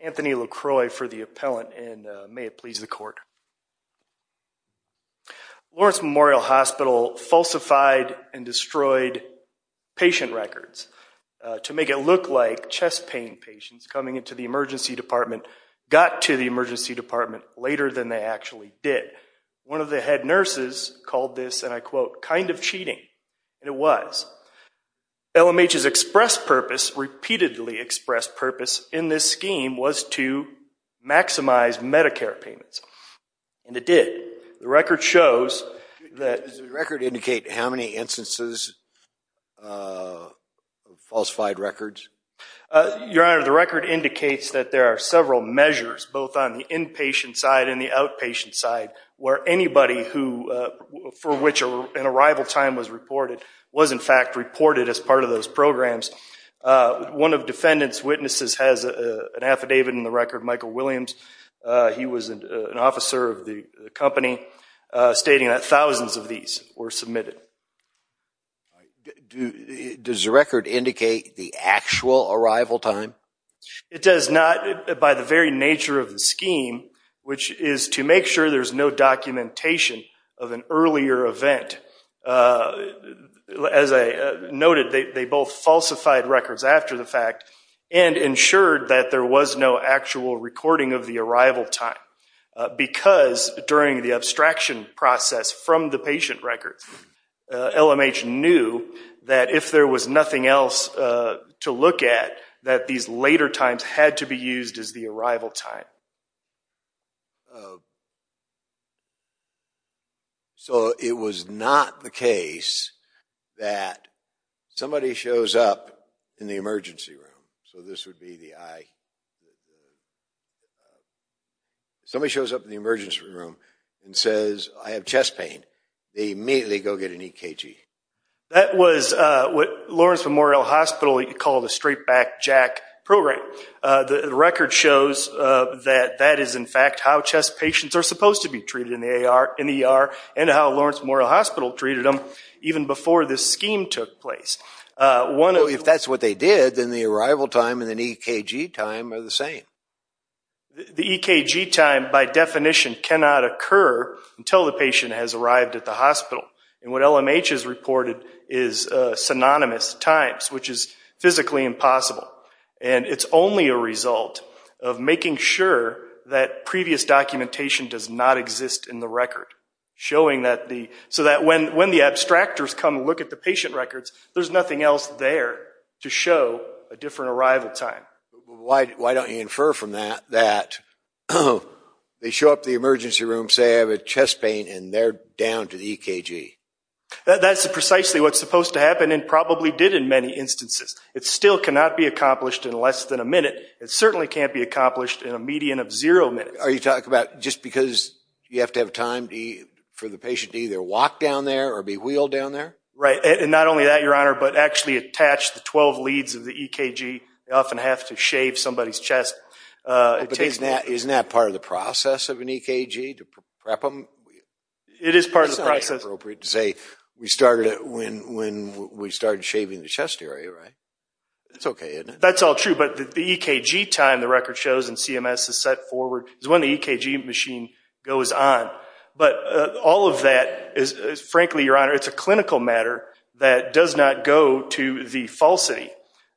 Anthony LaCroix for the appellant and may it please the court. Lawrence Memorial Hospital falsified and destroyed patient records to make it look like chest pain patients coming into the emergency department got to the emergency department later than they actually did. One of the head nurses called this, and I quote, kind of cheating. And it was. LMH's express purpose, repeatedly expressed purpose in this scheme was to maximize Medicare payments. And it did. The record shows that... Does the record indicate how many instances of falsified records? Your Honor, the record indicates that there are several measures, both on the inpatient side and the outpatient side, where anybody who, for which an arrival time was reported, was in fact reported as part of those programs. One of defendant's witnesses has an affidavit in the record, Michael Williams. He was an officer of the submitted. Does the record indicate the actual arrival time? It does not, by the very nature of the scheme, which is to make sure there's no documentation of an earlier event. As noted, they both falsified records after the fact and ensured that there was no actual recording of the arrival time. Because during the abstraction process from the patient records, LMH knew that if there was nothing else to look at, that these later times had to be used as the arrival time. So it was not the case that somebody shows up in the emergency room. So this would be the eye. Somebody shows up in the emergency room and says, I have chest pain. They immediately go get an EKG. That was what Lawrence Memorial Hospital called a straight back jack program. The record shows that that is in fact how chest patients are supposed to be treated in the ER and how Lawrence Memorial Hospital treated them even before this scheme took place. If that's what they did, then the arrival time and the EKG time are the same. The EKG time, by definition, cannot occur until the patient has arrived at the hospital. And what LMH has reported is synonymous times, which is physically impossible. And it's only a result of making sure that previous documentation does not exist in the there's nothing else there to show a different arrival time. Why don't you infer from that that they show up to the emergency room, say I have a chest pain, and they're down to the EKG? That's precisely what's supposed to happen and probably did in many instances. It still cannot be accomplished in less than a minute. It certainly can't be accomplished in a median of zero minutes. Are you talking about just because you have to have time for the patient to either walk down there or be wheeled down there? Right. And not only that, Your Honor, but actually attach the 12 leads of the EKG. They often have to shave somebody's chest. But isn't that part of the process of an EKG, to prep them? It is part of the process. It's not inappropriate to say we started it when we started shaving the chest area, right? That's okay, isn't it? That's all true, but the EKG time the record shows in CMS is set forward is when the EKG machine goes on. But all of that is frankly, Your Honor, it's a clinical matter that does not go to the falsity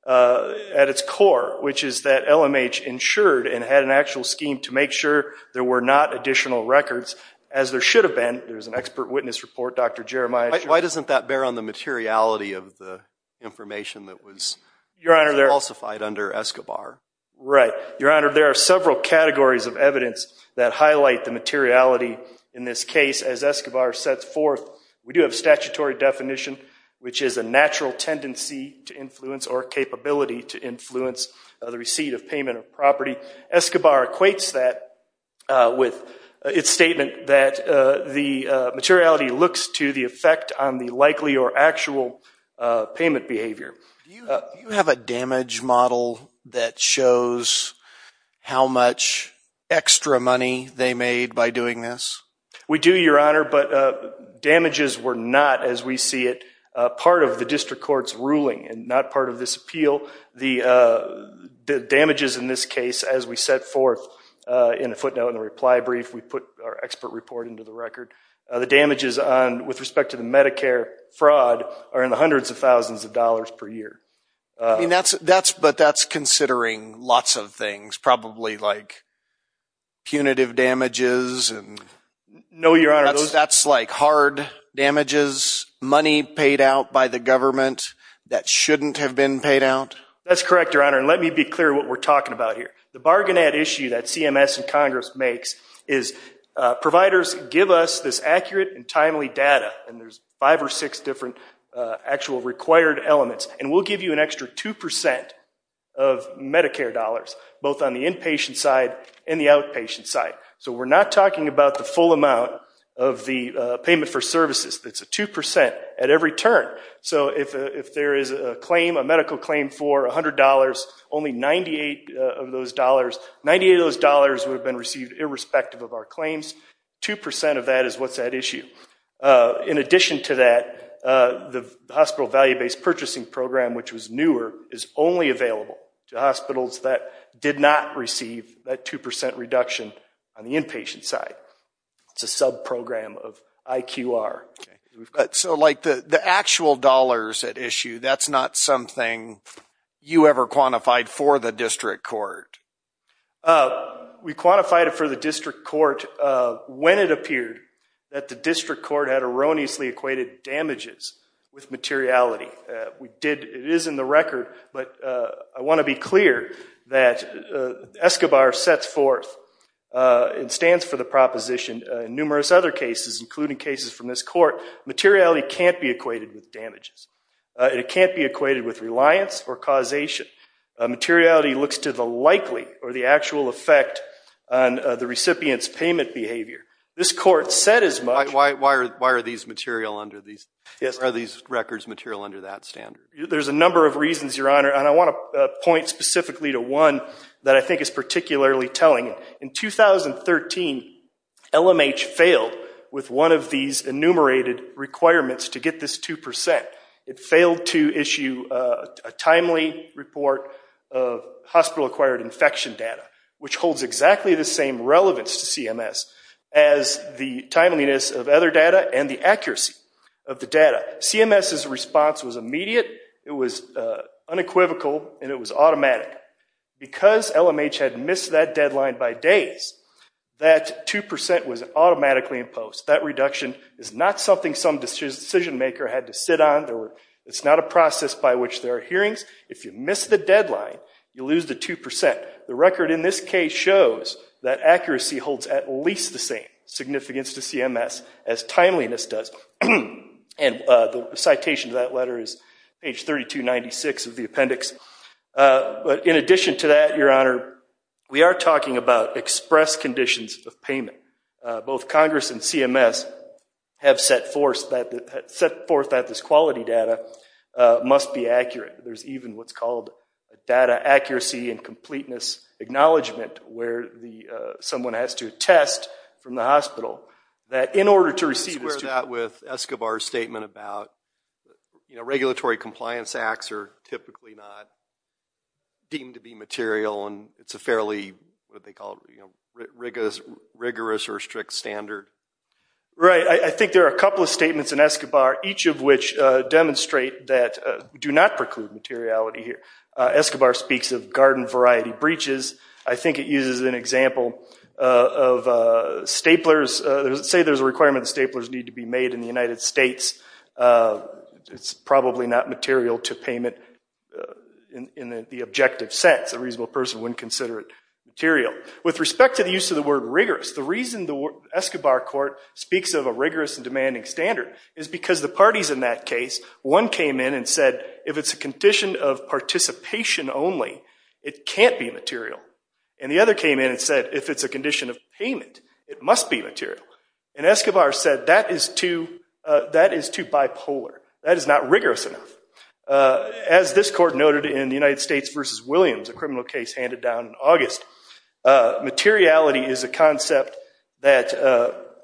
at its core, which is that LMH insured and had an actual scheme to make sure there were not additional records, as there should have been. There's an expert witness report, Dr. Jeremiah. Why doesn't that bear on the materiality of the information that was falsified under Escobar? Right. Your Honor, there are several categories of evidence that highlight the materiality in this case. As Escobar sets forth, we do have statutory definition, which is a natural tendency to influence or capability to influence the receipt of payment of property. Escobar equates that with its statement that the materiality looks to the effect on the likely or actual payment behavior. Do you have a damage model that shows how much extra money they made by doing this? We do, Your Honor, but damages were not, as we see it, part of the district court's ruling and not part of this appeal. The damages in this case, as we set forth in the footnote and the reply brief, we put our expert report into the record, the damages with respect to the Medicare fraud are in the hundreds of thousands of dollars per year. But that's considering lots of things, probably like punitive damages. No, Your Honor. That's like hard damages, money paid out by the government that shouldn't have been paid out? That's correct, Your Honor, and let me be clear what we're talking about here. The five or six different actual required elements, and we'll give you an extra 2% of Medicare dollars, both on the inpatient side and the outpatient side. So we're not talking about the full amount of the payment for services. That's a 2% at every turn. So if there is a claim, a medical claim for $100, only 98 of those dollars, 98 of those dollars would have been received irrespective of our claims. 2% of that is what's at issue. In addition to that, the hospital value-based purchasing program, which was newer, is only available to hospitals that did not receive that 2% reduction on the inpatient side. It's a sub-program of IQR. So like the actual dollars at issue, that's not something you ever quantified for the district court? We quantified it for the district court when it appeared that the district court had erroneously equated damages with materiality. It is in the record, but I want to be clear that ESCOBAR sets forth and stands for the proposition in numerous other cases, including cases from this court, materiality can't be equated with damages. It can't be equated with reliance or causation. Materiality looks to the likely or the actual effect on the recipient's payment behavior. This court said as much. Why are these records material under that standard? There's a number of reasons, Your Honor, and I want to point specifically to one that I think is particularly telling. In 2013, LMH failed with one of these enumerated requirements to get this 2%. It failed to issue a timely report of hospital-acquired infection data, which holds exactly the same relevance to CMS as the timeliness of other data and the accuracy of the data. CMS's response was immediate, it was unequivocal, and it was automatic. Because LMH had missed that deadline by days, that 2% was automatically imposed. That reduction is not something some decision-maker had to sit on. It's not a process by which there are hearings. If you miss the deadline, you lose the 2%. The record in this case shows that accuracy holds at least the same significance to CMS as timeliness does. And the citation to that letter is page 3296 of the appendix. But in addition to that, Your Honor, we are talking about express conditions of payment. Both Congress and CMS have set forth that this quality data must be accurate. There's even what's called a data accuracy and completeness acknowledgment, where someone has to attest from the hospital that in order to receive this... Let's square that with Escobar's statement about regulatory compliance acts are typically not deemed to be material and it's a fairly rigorous or strict standard. Right. I think there are a couple of statements in Escobar, each of which demonstrate that do not preclude materiality here. Escobar speaks of garden variety breaches. I think it uses an example of staplers. Say there's a requirement that staplers need to be made in the United States. It's probably not material to payment in the objective sense. A reasonable person wouldn't consider it material. With respect to the use of the word rigorous, the reason the Escobar court speaks of a rigorous and demanding standard is because the parties in that case, one came in and said if it's a condition of participation only, it can't be material. And the other came in and said if it's a condition of payment, it must be too bipolar. That is not rigorous enough. As this court noted in the United States versus Williams, a criminal case handed down in August, materiality is a concept that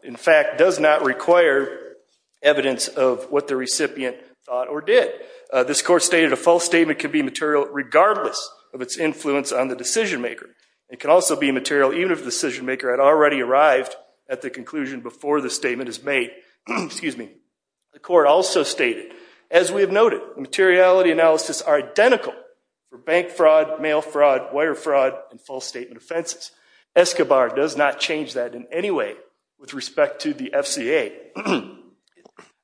in fact does not require evidence of what the recipient thought or did. This court stated a false statement can be material regardless of its influence on the decision maker. It can also be material even if the decision maker had already arrived at the conclusion before the court also stated, as we have noted, materiality analysis are identical for bank fraud, mail fraud, wire fraud, and false statement offenses. Escobar does not change that in any way with respect to the FCA.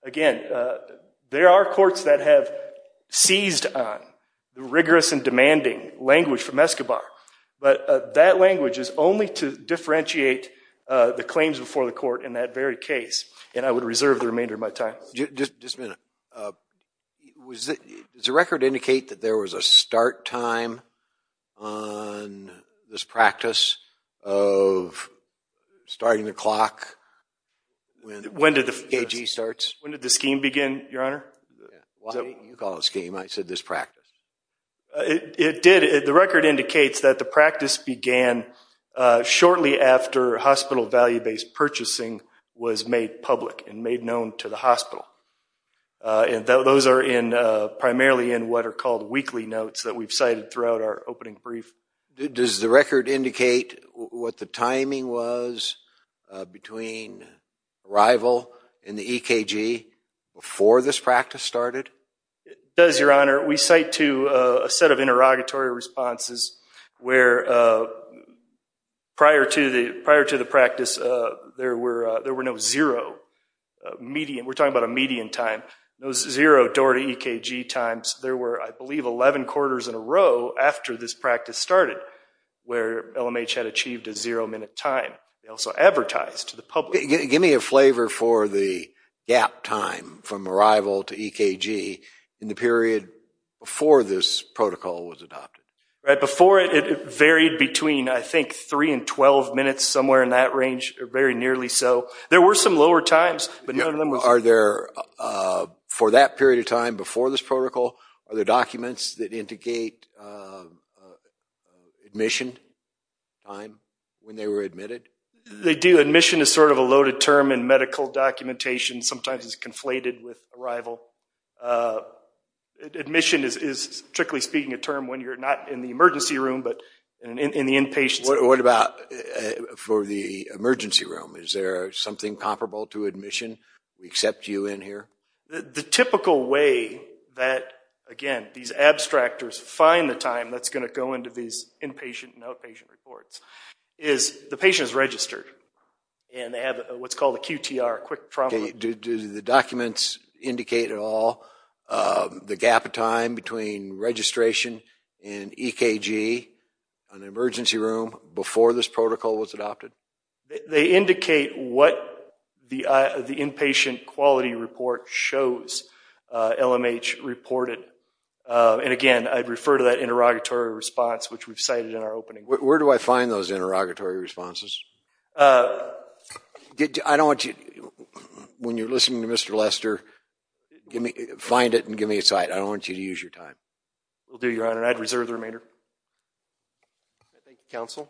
Again, there are courts that have seized on the rigorous and demanding language from Escobar, but that language is only to differentiate the claims before the court. Just a minute. Does the record indicate that there was a start time on this practice of starting the clock when the AG starts? When did the scheme begin, Your Honor? Why didn't you call it a scheme? I said this practice. It did. The record indicates that the practice began shortly after hospital value-based purchasing was made public and made known to the hospital. Those are primarily in what are called weekly notes that we've cited throughout our opening brief. Does the record indicate what the timing was between arrival and the EKG before this practice started? It does, Your Honor. We cite to a set of interrogatory responses where prior to the practice, there were no zero, we're talking about a median time, no zero door to EKG times. There were, I believe, 11 quarters in a row after this practice started where LMH had achieved a zero-minute time. They also advertised to the public. Give me a flavor for the gap time from arrival to EKG in the period before this protocol was adopted. Before it, it varied between, I think, 3 and 12 minutes, somewhere in that range, or very nearly so. There were some lower times, but none of them was… Are there, for that period of time before this protocol, are there documents that indicate admission time when they were admitted? They do. Admission is sort of a loaded term in medical documentation. Sometimes it's What about for the emergency room? Is there something comparable to admission? We accept you in here? The typical way that, again, these abstractors find the time that's going to go into these inpatient and outpatient reports is the patient is registered, and they have what's called a QTR, quick trauma… Do the documents indicate at all the gap time between registration and EKG in the emergency room before this protocol was adopted? They indicate what the inpatient quality report shows LMH reported. And again, I'd refer to that interrogatory response, which we've cited in our opening. Where do I find those interrogatory responses? I don't want you… When you're listening to Mr. Lester, find it and give me a cite. I don't want you to use your time. Will do, Your Honor. I'd reserve the remainder. Thank you, counsel.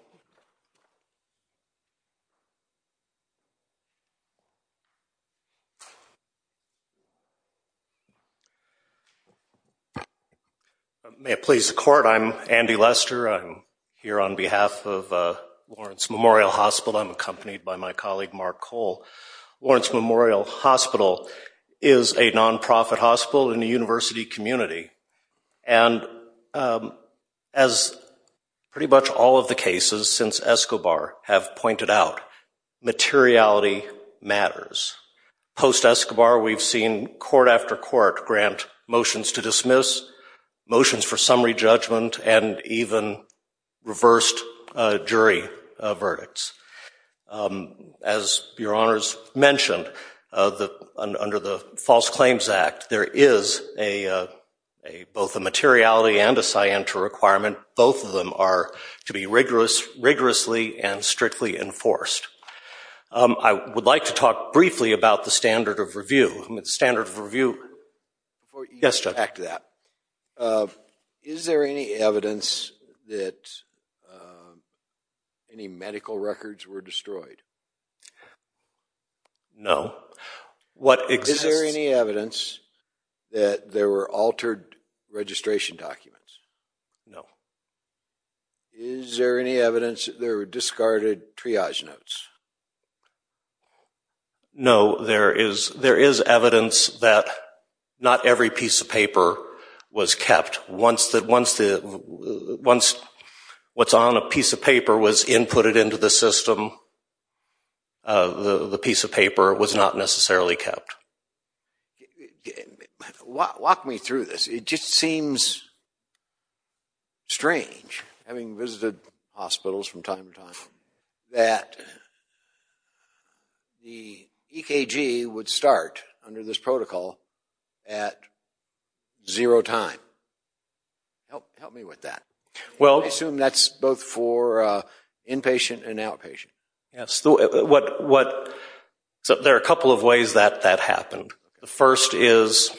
May it please the court, I'm Andy Lester. I'm here on behalf of Lawrence Memorial Hospital. I'm accompanied by my colleague, Mark Cole. Lawrence Memorial Hospital is a non-profit hospital in the university community. And as pretty much all of the cases since Escobar have pointed out, materiality matters. Post-Escobar, we've seen court after court grant motions to dismiss, motions for summary judgment, and even reversed jury verdicts. As Your Honors mentioned, under the False Claims Act, there is both a materiality and a scienter requirement. Both of them are to be rigorously and strictly enforced. I would like to talk briefly about the standard of review. The standard of review… Yes, Judge. Back to that. Is there any evidence that any medical records were destroyed? No. Is there any evidence that there were altered registration documents? No. Is there any evidence that there were discarded triage notes? No. There is evidence that not every piece of paper was kept. Once what's on a piece of paper was inputted into the system, the piece of paper was not necessarily kept. Walk me through this. It just seems strange, having visited hospitals from time to time, that the EKG would start under this protocol at zero time. Help me with that. I assume that's both for inpatient and outpatient. There are a couple of ways that that happened. The first is,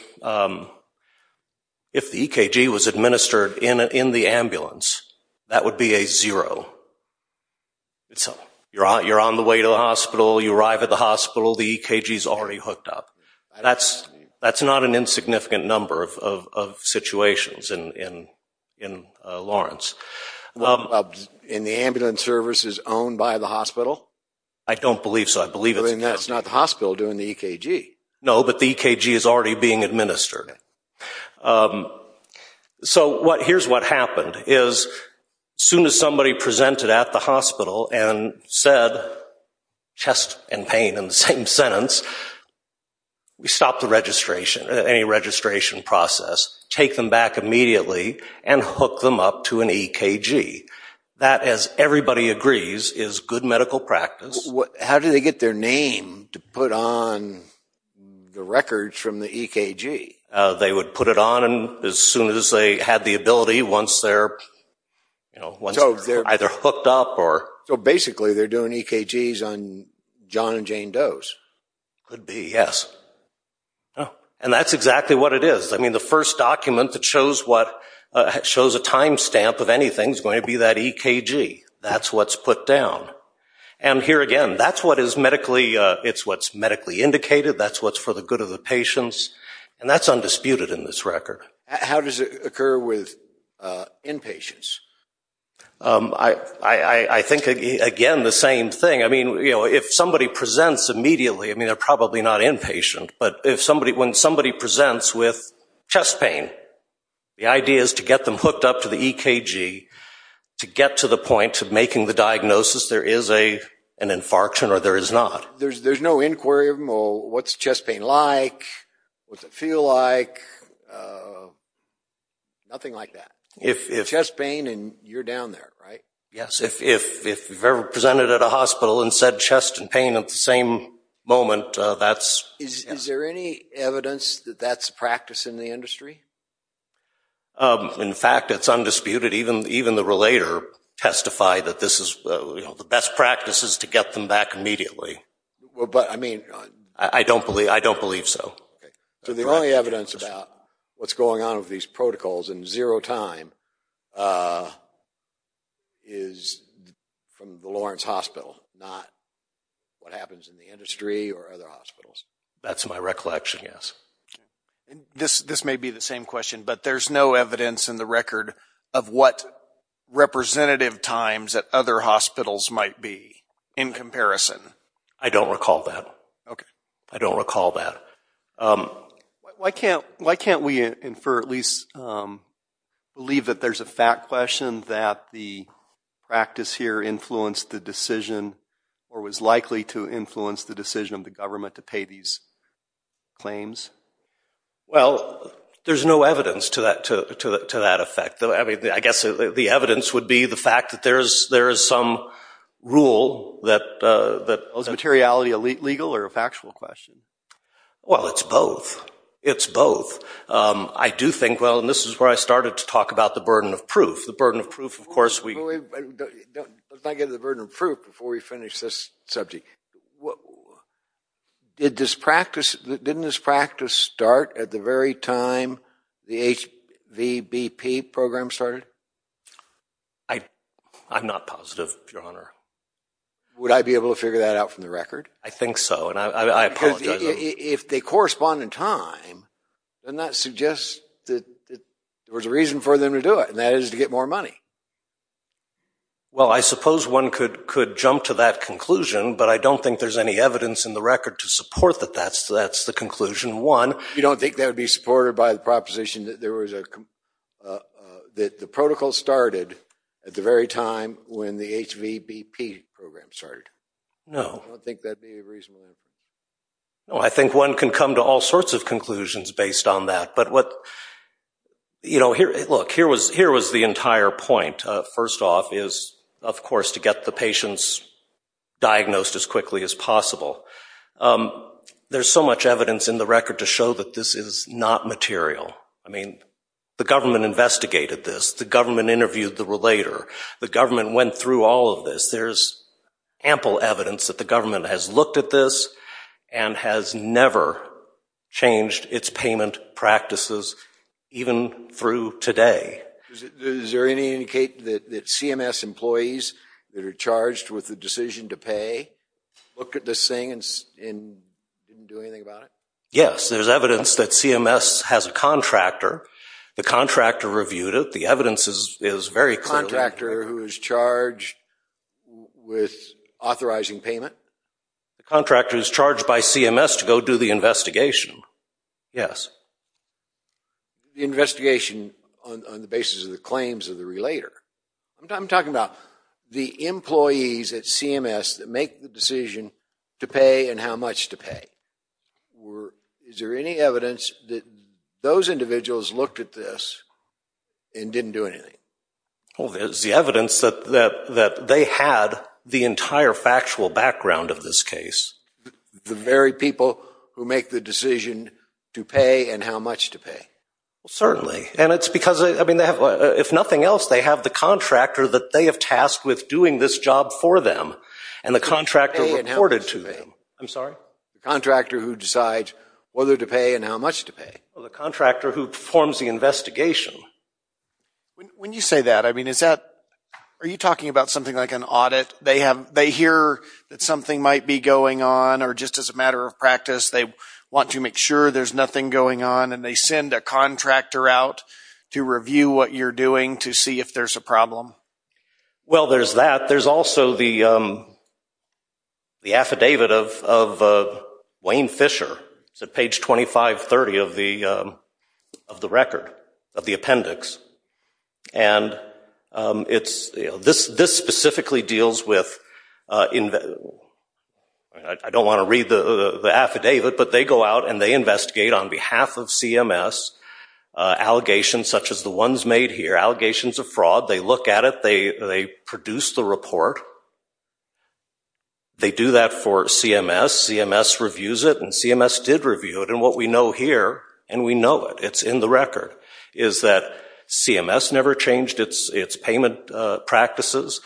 if the EKG was administered in the ambulance, that would be a zero. You're on the way to the hospital, you arrive at the hospital, the EKG is already hooked up. That's not an insignificant number of situations in Lawrence. The ambulance service is owned by the hospital? I don't believe so. That's not the hospital doing the EKG. No, but the EKG is already being administered. Here's what happened. As soon as somebody presented at the hospital and said, chest and pain in the same sentence, we stop any registration process, take them back immediately, and hook them up to an EKG. That, as everybody agrees, is good medical practice. How do they get their name to put on the records from the EKG? They would put it on as soon as they had the ability, once they're hooked up. So basically, they're doing EKGs on John and Jane Doe's? Could be, yes. And that's exactly what it is. The first document that shows a time stamp of anything is going to be that EKG. That's what's put down. And here again, that's what is medically indicated. That's what's for the good of the patients. And that's undisputed in this record. How does it occur with inpatients? I think, again, the same thing. I mean, if somebody presents immediately, I mean, they're probably not inpatient, but when somebody presents with chest pain, the idea is to get them hooked up to the EKG to get to the point of making the diagnosis there is an infarction or there is not. There's no inquiry of what's chest pain like, what's it feel like, nothing like that. Chest pain and you're down there, right? Yes. If you've ever presented at a hospital and said chest and pain at the same moment, that's… Is there any evidence that that's a practice in the industry? In fact, it's undisputed. Even the relator testified that this is the best practices to get them back immediately. But, I mean… I don't believe so. So the only evidence about what's going on with these protocols in zero time is from the Lawrence Hospital, not what happens in the industry or other hospitals. That's my recollection, yes. This may be the same question, but there's no evidence in the record of what representative times at other hospitals might be in comparison. I don't recall that. Okay. I don't recall that. Why can't we infer, at least believe that there's a fact question that the practice here influenced the decision or was likely to influence the decision of the government to pay these claims? Well, there's no evidence to that effect. I mean, I guess the evidence would be the fact that there is some rule that… Is the materiality legal or a factual question? Well, it's both. It's both. I do think, well, and this is where I started to talk about the burden of proof. The burden of proof, of course, we… Let's not get into the burden of proof before we finish this subject. Didn't this practice start at the very time the HVBP program started? I'm not positive, Your Honor. Would I be able to figure that out from the record? I think so, and I apologize. If they correspond in time, then that suggests that there was a reason for them to do it, and that is to get more money. Well, I suppose one could jump to that conclusion, but I don't think there's any evidence in the record to support that that's the conclusion. One… You don't think that would be supported by the proposition that there was a… That the protocol started at the very time when the HVBP program started? No. I don't think that would be a reasonable answer. No, I think one can come to all sorts of conclusions based on that, but what… You know, look, here was the entire point. First off is, of course, to get the patients diagnosed as quickly as possible. There's so much evidence in the record to show that this is not material. I mean, the government investigated this. The government interviewed the relator. The government went through all of this. There's ample evidence that the government has looked at this and has never changed its payment practices even through today. Is there any indication that CMS employees that are charged with the decision to pay looked at this thing and didn't do anything about it? Yes, there's evidence that CMS has a contractor. The contractor reviewed it. The evidence is very clear. A contractor who is charged with authorizing payment? The contractor is charged by CMS to go do the investigation. Yes. The investigation on the basis of the claims of the relator. I'm talking about the employees at CMS that make the decision to pay and how much to pay. Is there any evidence that those individuals looked at this and didn't do anything? There's the evidence that they had the entire factual background of this case. The very people who make the decision to pay and how much to pay? Certainly, and it's because, if nothing else, they have the contractor that they have tasked with doing this job for them, and the contractor reported to them. I'm sorry? The contractor who decides whether to pay and how much to pay. The contractor who performs the investigation. When you say that, are you talking about something like an audit? They hear that something might be going on or just as a matter of practice they want to make sure there's nothing going on, and they send a contractor out to review what you're doing to see if there's a problem? Well, there's that. There's the affidavit of Wayne Fisher. It's at page 2530 of the record, of the appendix. This specifically deals with – I don't want to read the affidavit, but they go out and they investigate on behalf of CMS allegations such as the ones made here, allegations of fraud. They look at it. They produce the report. They do that for CMS. CMS reviews it, and CMS did review it. And what we know here, and we know it, it's in the record, is that CMS never changed its payment practices.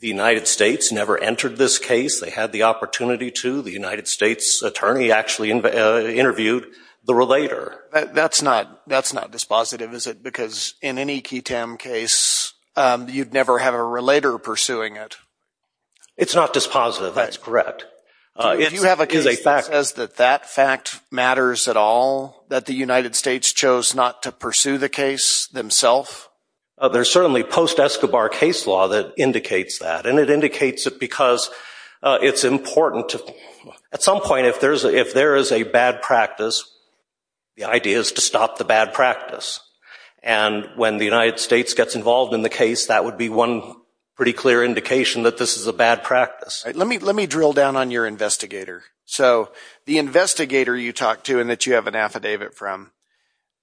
The United States never entered this case. They had the opportunity to. The United States attorney actually interviewed the relator. That's not dispositive, is it? Because in any QUTEM case, you'd never have a relator pursuing it. It's not dispositive. That's correct. Do you have a case that says that that fact matters at all, that the United States chose not to pursue the case themselves? There's certainly post-Escobar case law that indicates that, and it indicates it because it's important. At some point, if there is a bad practice, the idea is to stop the bad practice. And when the United States gets involved in the case, that would be one pretty clear indication that this is a bad practice. Let me drill down on your investigator. So the investigator you talked to and that you have an affidavit from,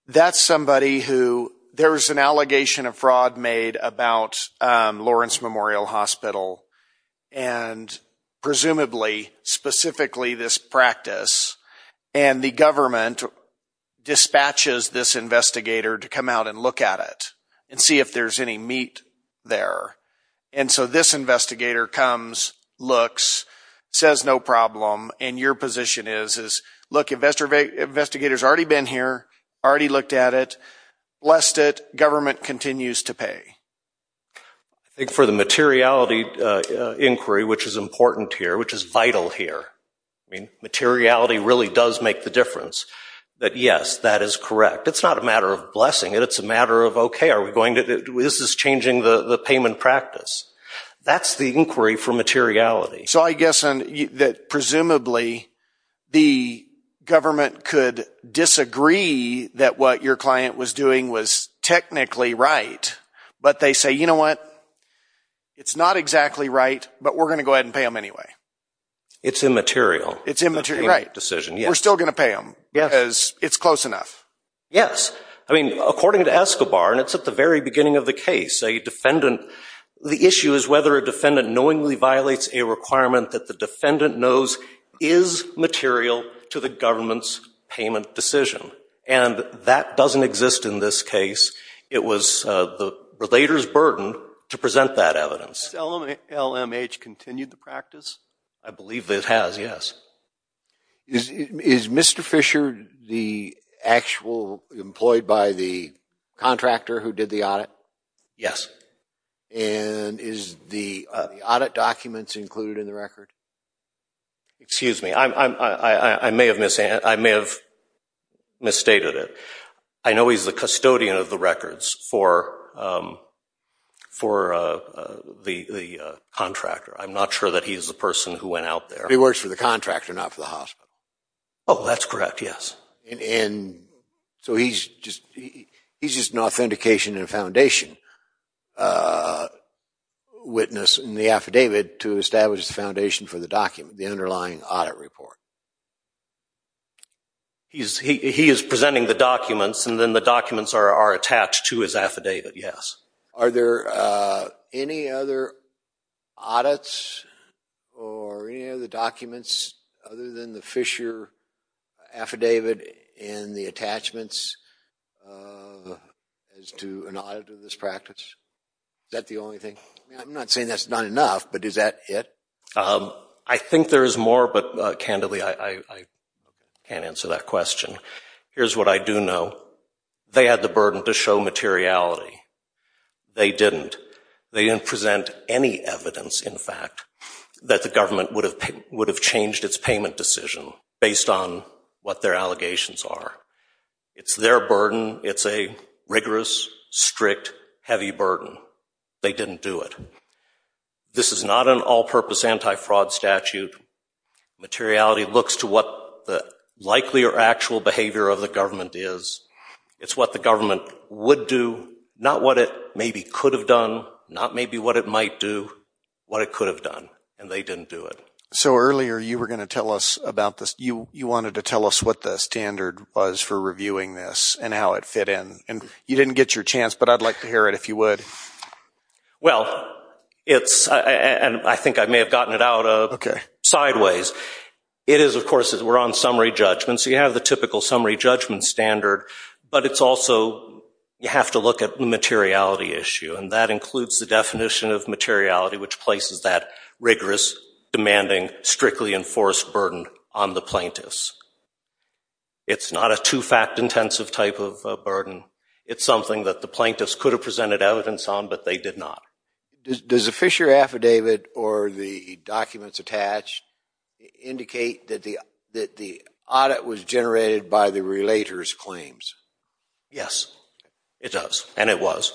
that's somebody who there's an allegation of fraud made about Lawrence Memorial Hospital, and presumably specifically this practice, and the government dispatches this investigator to come out and look at it and see if there's any meat there. And so this investigator comes, looks, says no problem, and your position is, look, the investigator's already been here, already looked at it, lest it government continues to pay. I think for the materiality inquiry, which is important here, which is vital here, I mean, materiality really does make the difference, that yes, that is correct. It's not a matter of blessing it. It's a matter of, okay, this is changing the payment practice. That's the inquiry for materiality. So I guess that presumably the government could disagree that what your client was doing was technically right, but they say, you know what, it's not exactly right, but we're going to go ahead and pay them anyway. It's immaterial. It's immaterial, right. We're still going to pay them because it's close enough. Yes. I mean, according to Escobar, and it's at the very beginning of the case, a defendant, the issue is whether a defendant knowingly violates a requirement that the defendant knows is material to the government's payment decision. And that doesn't exist in this case. It was the relator's burden to present that evidence. Has LMH continued the practice? I believe it has, yes. Is Mr. Fisher the actual employed by the contractor who did the audit? And is the audit documents included in the record? Excuse me. I may have misstated it. I know he's the custodian of the records for the contractor. I'm not sure that he's the person who went out there. He works for the contractor, not for the hospital. Oh, that's correct, yes. And so he's just an authentication and foundation witness in the affidavit to establish the foundation for the document, the underlying audit report. He is presenting the documents, and then the documents are attached to his affidavit, yes. Are there any other audits or any other documents other than the Fisher affidavit and the attachments as to an audit of this practice? Is that the only thing? I'm not saying that's not enough, but is that it? I think there is more, but candidly I can't answer that question. Here's what I do know. They had the burden to show materiality. They didn't. They didn't present any evidence, in fact, that the government would have changed its payment decision based on what their allegations are. It's their burden. It's a rigorous, strict, heavy burden. They didn't do it. This is not an all-purpose anti-fraud statute. Materiality looks to what the likely or actual behavior of the government is. It's what the government would do, not what it maybe could have done, not maybe what it might do, what it could have done, and they didn't do it. So earlier you were going to tell us about this. You wanted to tell us what the standard was for reviewing this and how it fit in. You didn't get your chance, but I'd like to hear it if you would. Well, I think I may have gotten it out sideways. It is, of course, we're on summary judgment, so you have the typical summary judgment standard, but it's also you have to look at the materiality issue, and that includes the definition of materiality, which places that rigorous, demanding, strictly enforced burden on the plaintiffs. It's not a two-fact intensive type of burden. It's something that the plaintiffs could have presented evidence on, but they did not. Does the Fisher affidavit or the documents attached indicate that the audit was generated by the relator's claims? Yes, it does, and it was.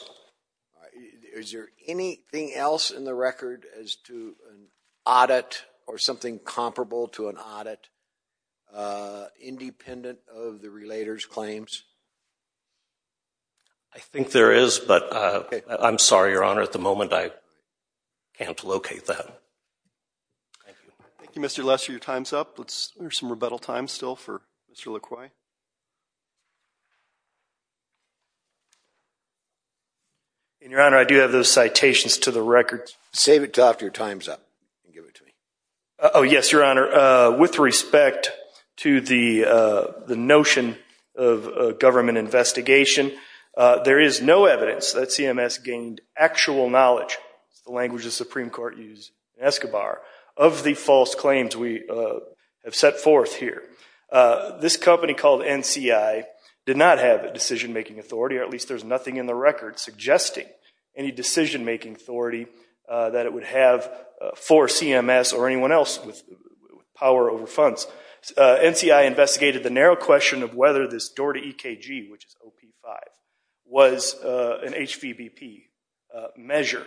Is there anything else in the record as to an audit or something comparable to an audit, independent of the relator's claims? I think there is, but I'm sorry, Your Honor, at the moment I can't locate that. Thank you, Mr. Lester. Your time's up. There's some rebuttal time still for Mr. LaCroix. Your Honor, I do have those citations to the record. Save it to after your time's up and give it to me. Oh, yes, Your Honor. With respect to the notion of government investigation, there is no evidence that CMS gained actual knowledge, the language the Supreme Court used in Escobar, of the false claims. We have set forth here. This company called NCI did not have a decision-making authority, or at least there's nothing in the record suggesting any decision-making authority that it would have for CMS or anyone else with power over funds. NCI investigated the narrow question of whether this door to EKG, which is OP5, was an HVBP measure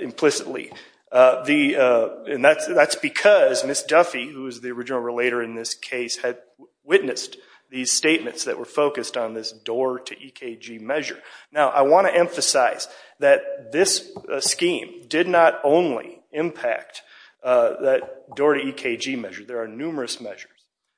implicitly. That's because Ms. Duffy, who was the original relator in this case, had witnessed these statements that were focused on this door to EKG measure. Now, I want to emphasize that this scheme did not only impact that door to EKG measure. There are numerous measures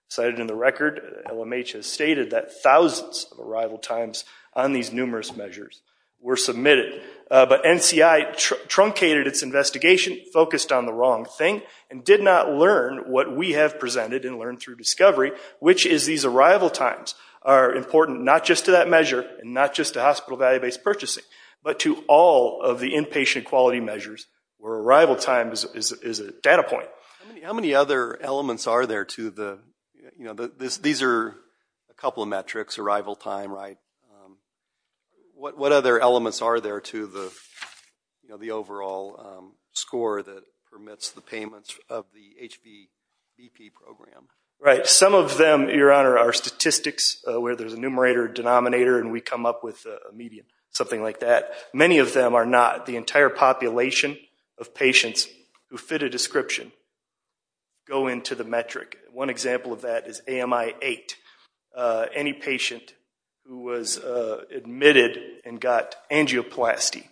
cited in the record. LMH has stated that thousands of arrival times on these numerous measures were submitted. But NCI truncated its investigation, focused on the wrong thing, and did not learn what we have presented and learned through discovery, which is these arrival times are important not just to that measure and not just to hospital value-based purchasing, but to all of the inpatient quality measures where arrival time is a data point. How many other elements are there to the, you know, these are a couple of metrics, arrival time, right? What other elements are there to the overall score that permits the payments of the HVBP program? Right. Some of them, Your Honor, are statistics where there's a numerator, denominator, and we come up with a median, something like that. Many of them are not. The entire population of patients who fit a description go into the metric. One example of that is AMI-8. Any patient who was admitted and got angioplasty,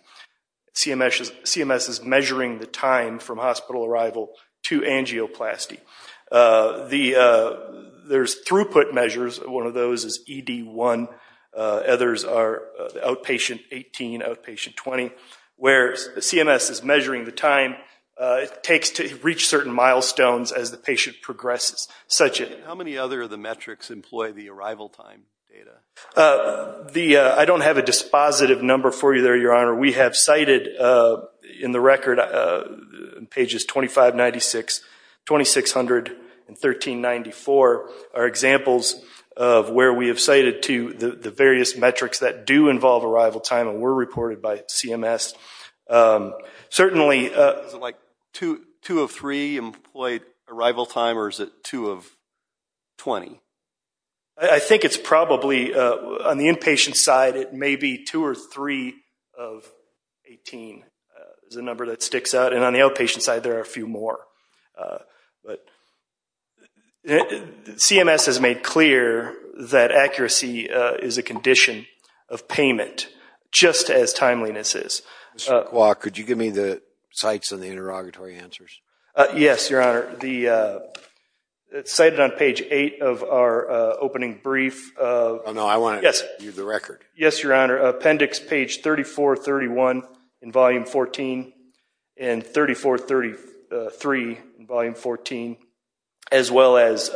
CMS is measuring the time from hospital arrival to angioplasty. There's throughput measures. One of those is ED1. Others are outpatient 18, outpatient 20, where CMS is measuring the time it takes to reach certain milestones as the patient progresses. How many other of the metrics employ the arrival time data? I don't have a dispositive number for you there, Your Honor. We have cited in the record in pages 2596, 2600, and 1394 are examples of where we have cited to the various metrics that do involve arrival time and were reported by CMS. Certainly... Is it like 2 of 3 employed arrival time, or is it 2 of 20? I think it's probably, on the inpatient side, it may be 2 or 3 of 18 is the number that sticks out. And on the outpatient side, there are a few more. But CMS has made clear that accuracy is a condition of payment, just as timeliness is. Mr. Kwa, could you give me the cites and the interrogatory answers? Yes, Your Honor. Cited on page 8 of our opening brief... Oh, no, I want to read the record. Yes, Your Honor. Appendix page 3431 in Volume 14 and 3433 in Volume 14, as well as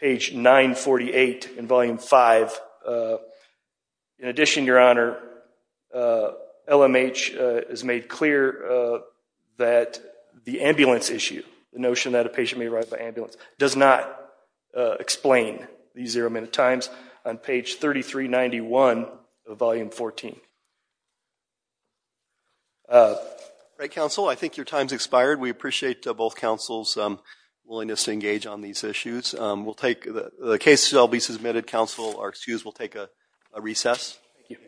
page 948 in Volume 5. In addition, Your Honor, LMH has made clear that the ambulance issue, the notion that a patient may arrive by ambulance, does not explain these zero-minute times. On page 3391 of Volume 14. All right, counsel. I think your time has expired. We appreciate both counsel's willingness to engage on these issues. The case shall be submitted. Counsel will take a recess. Thank you.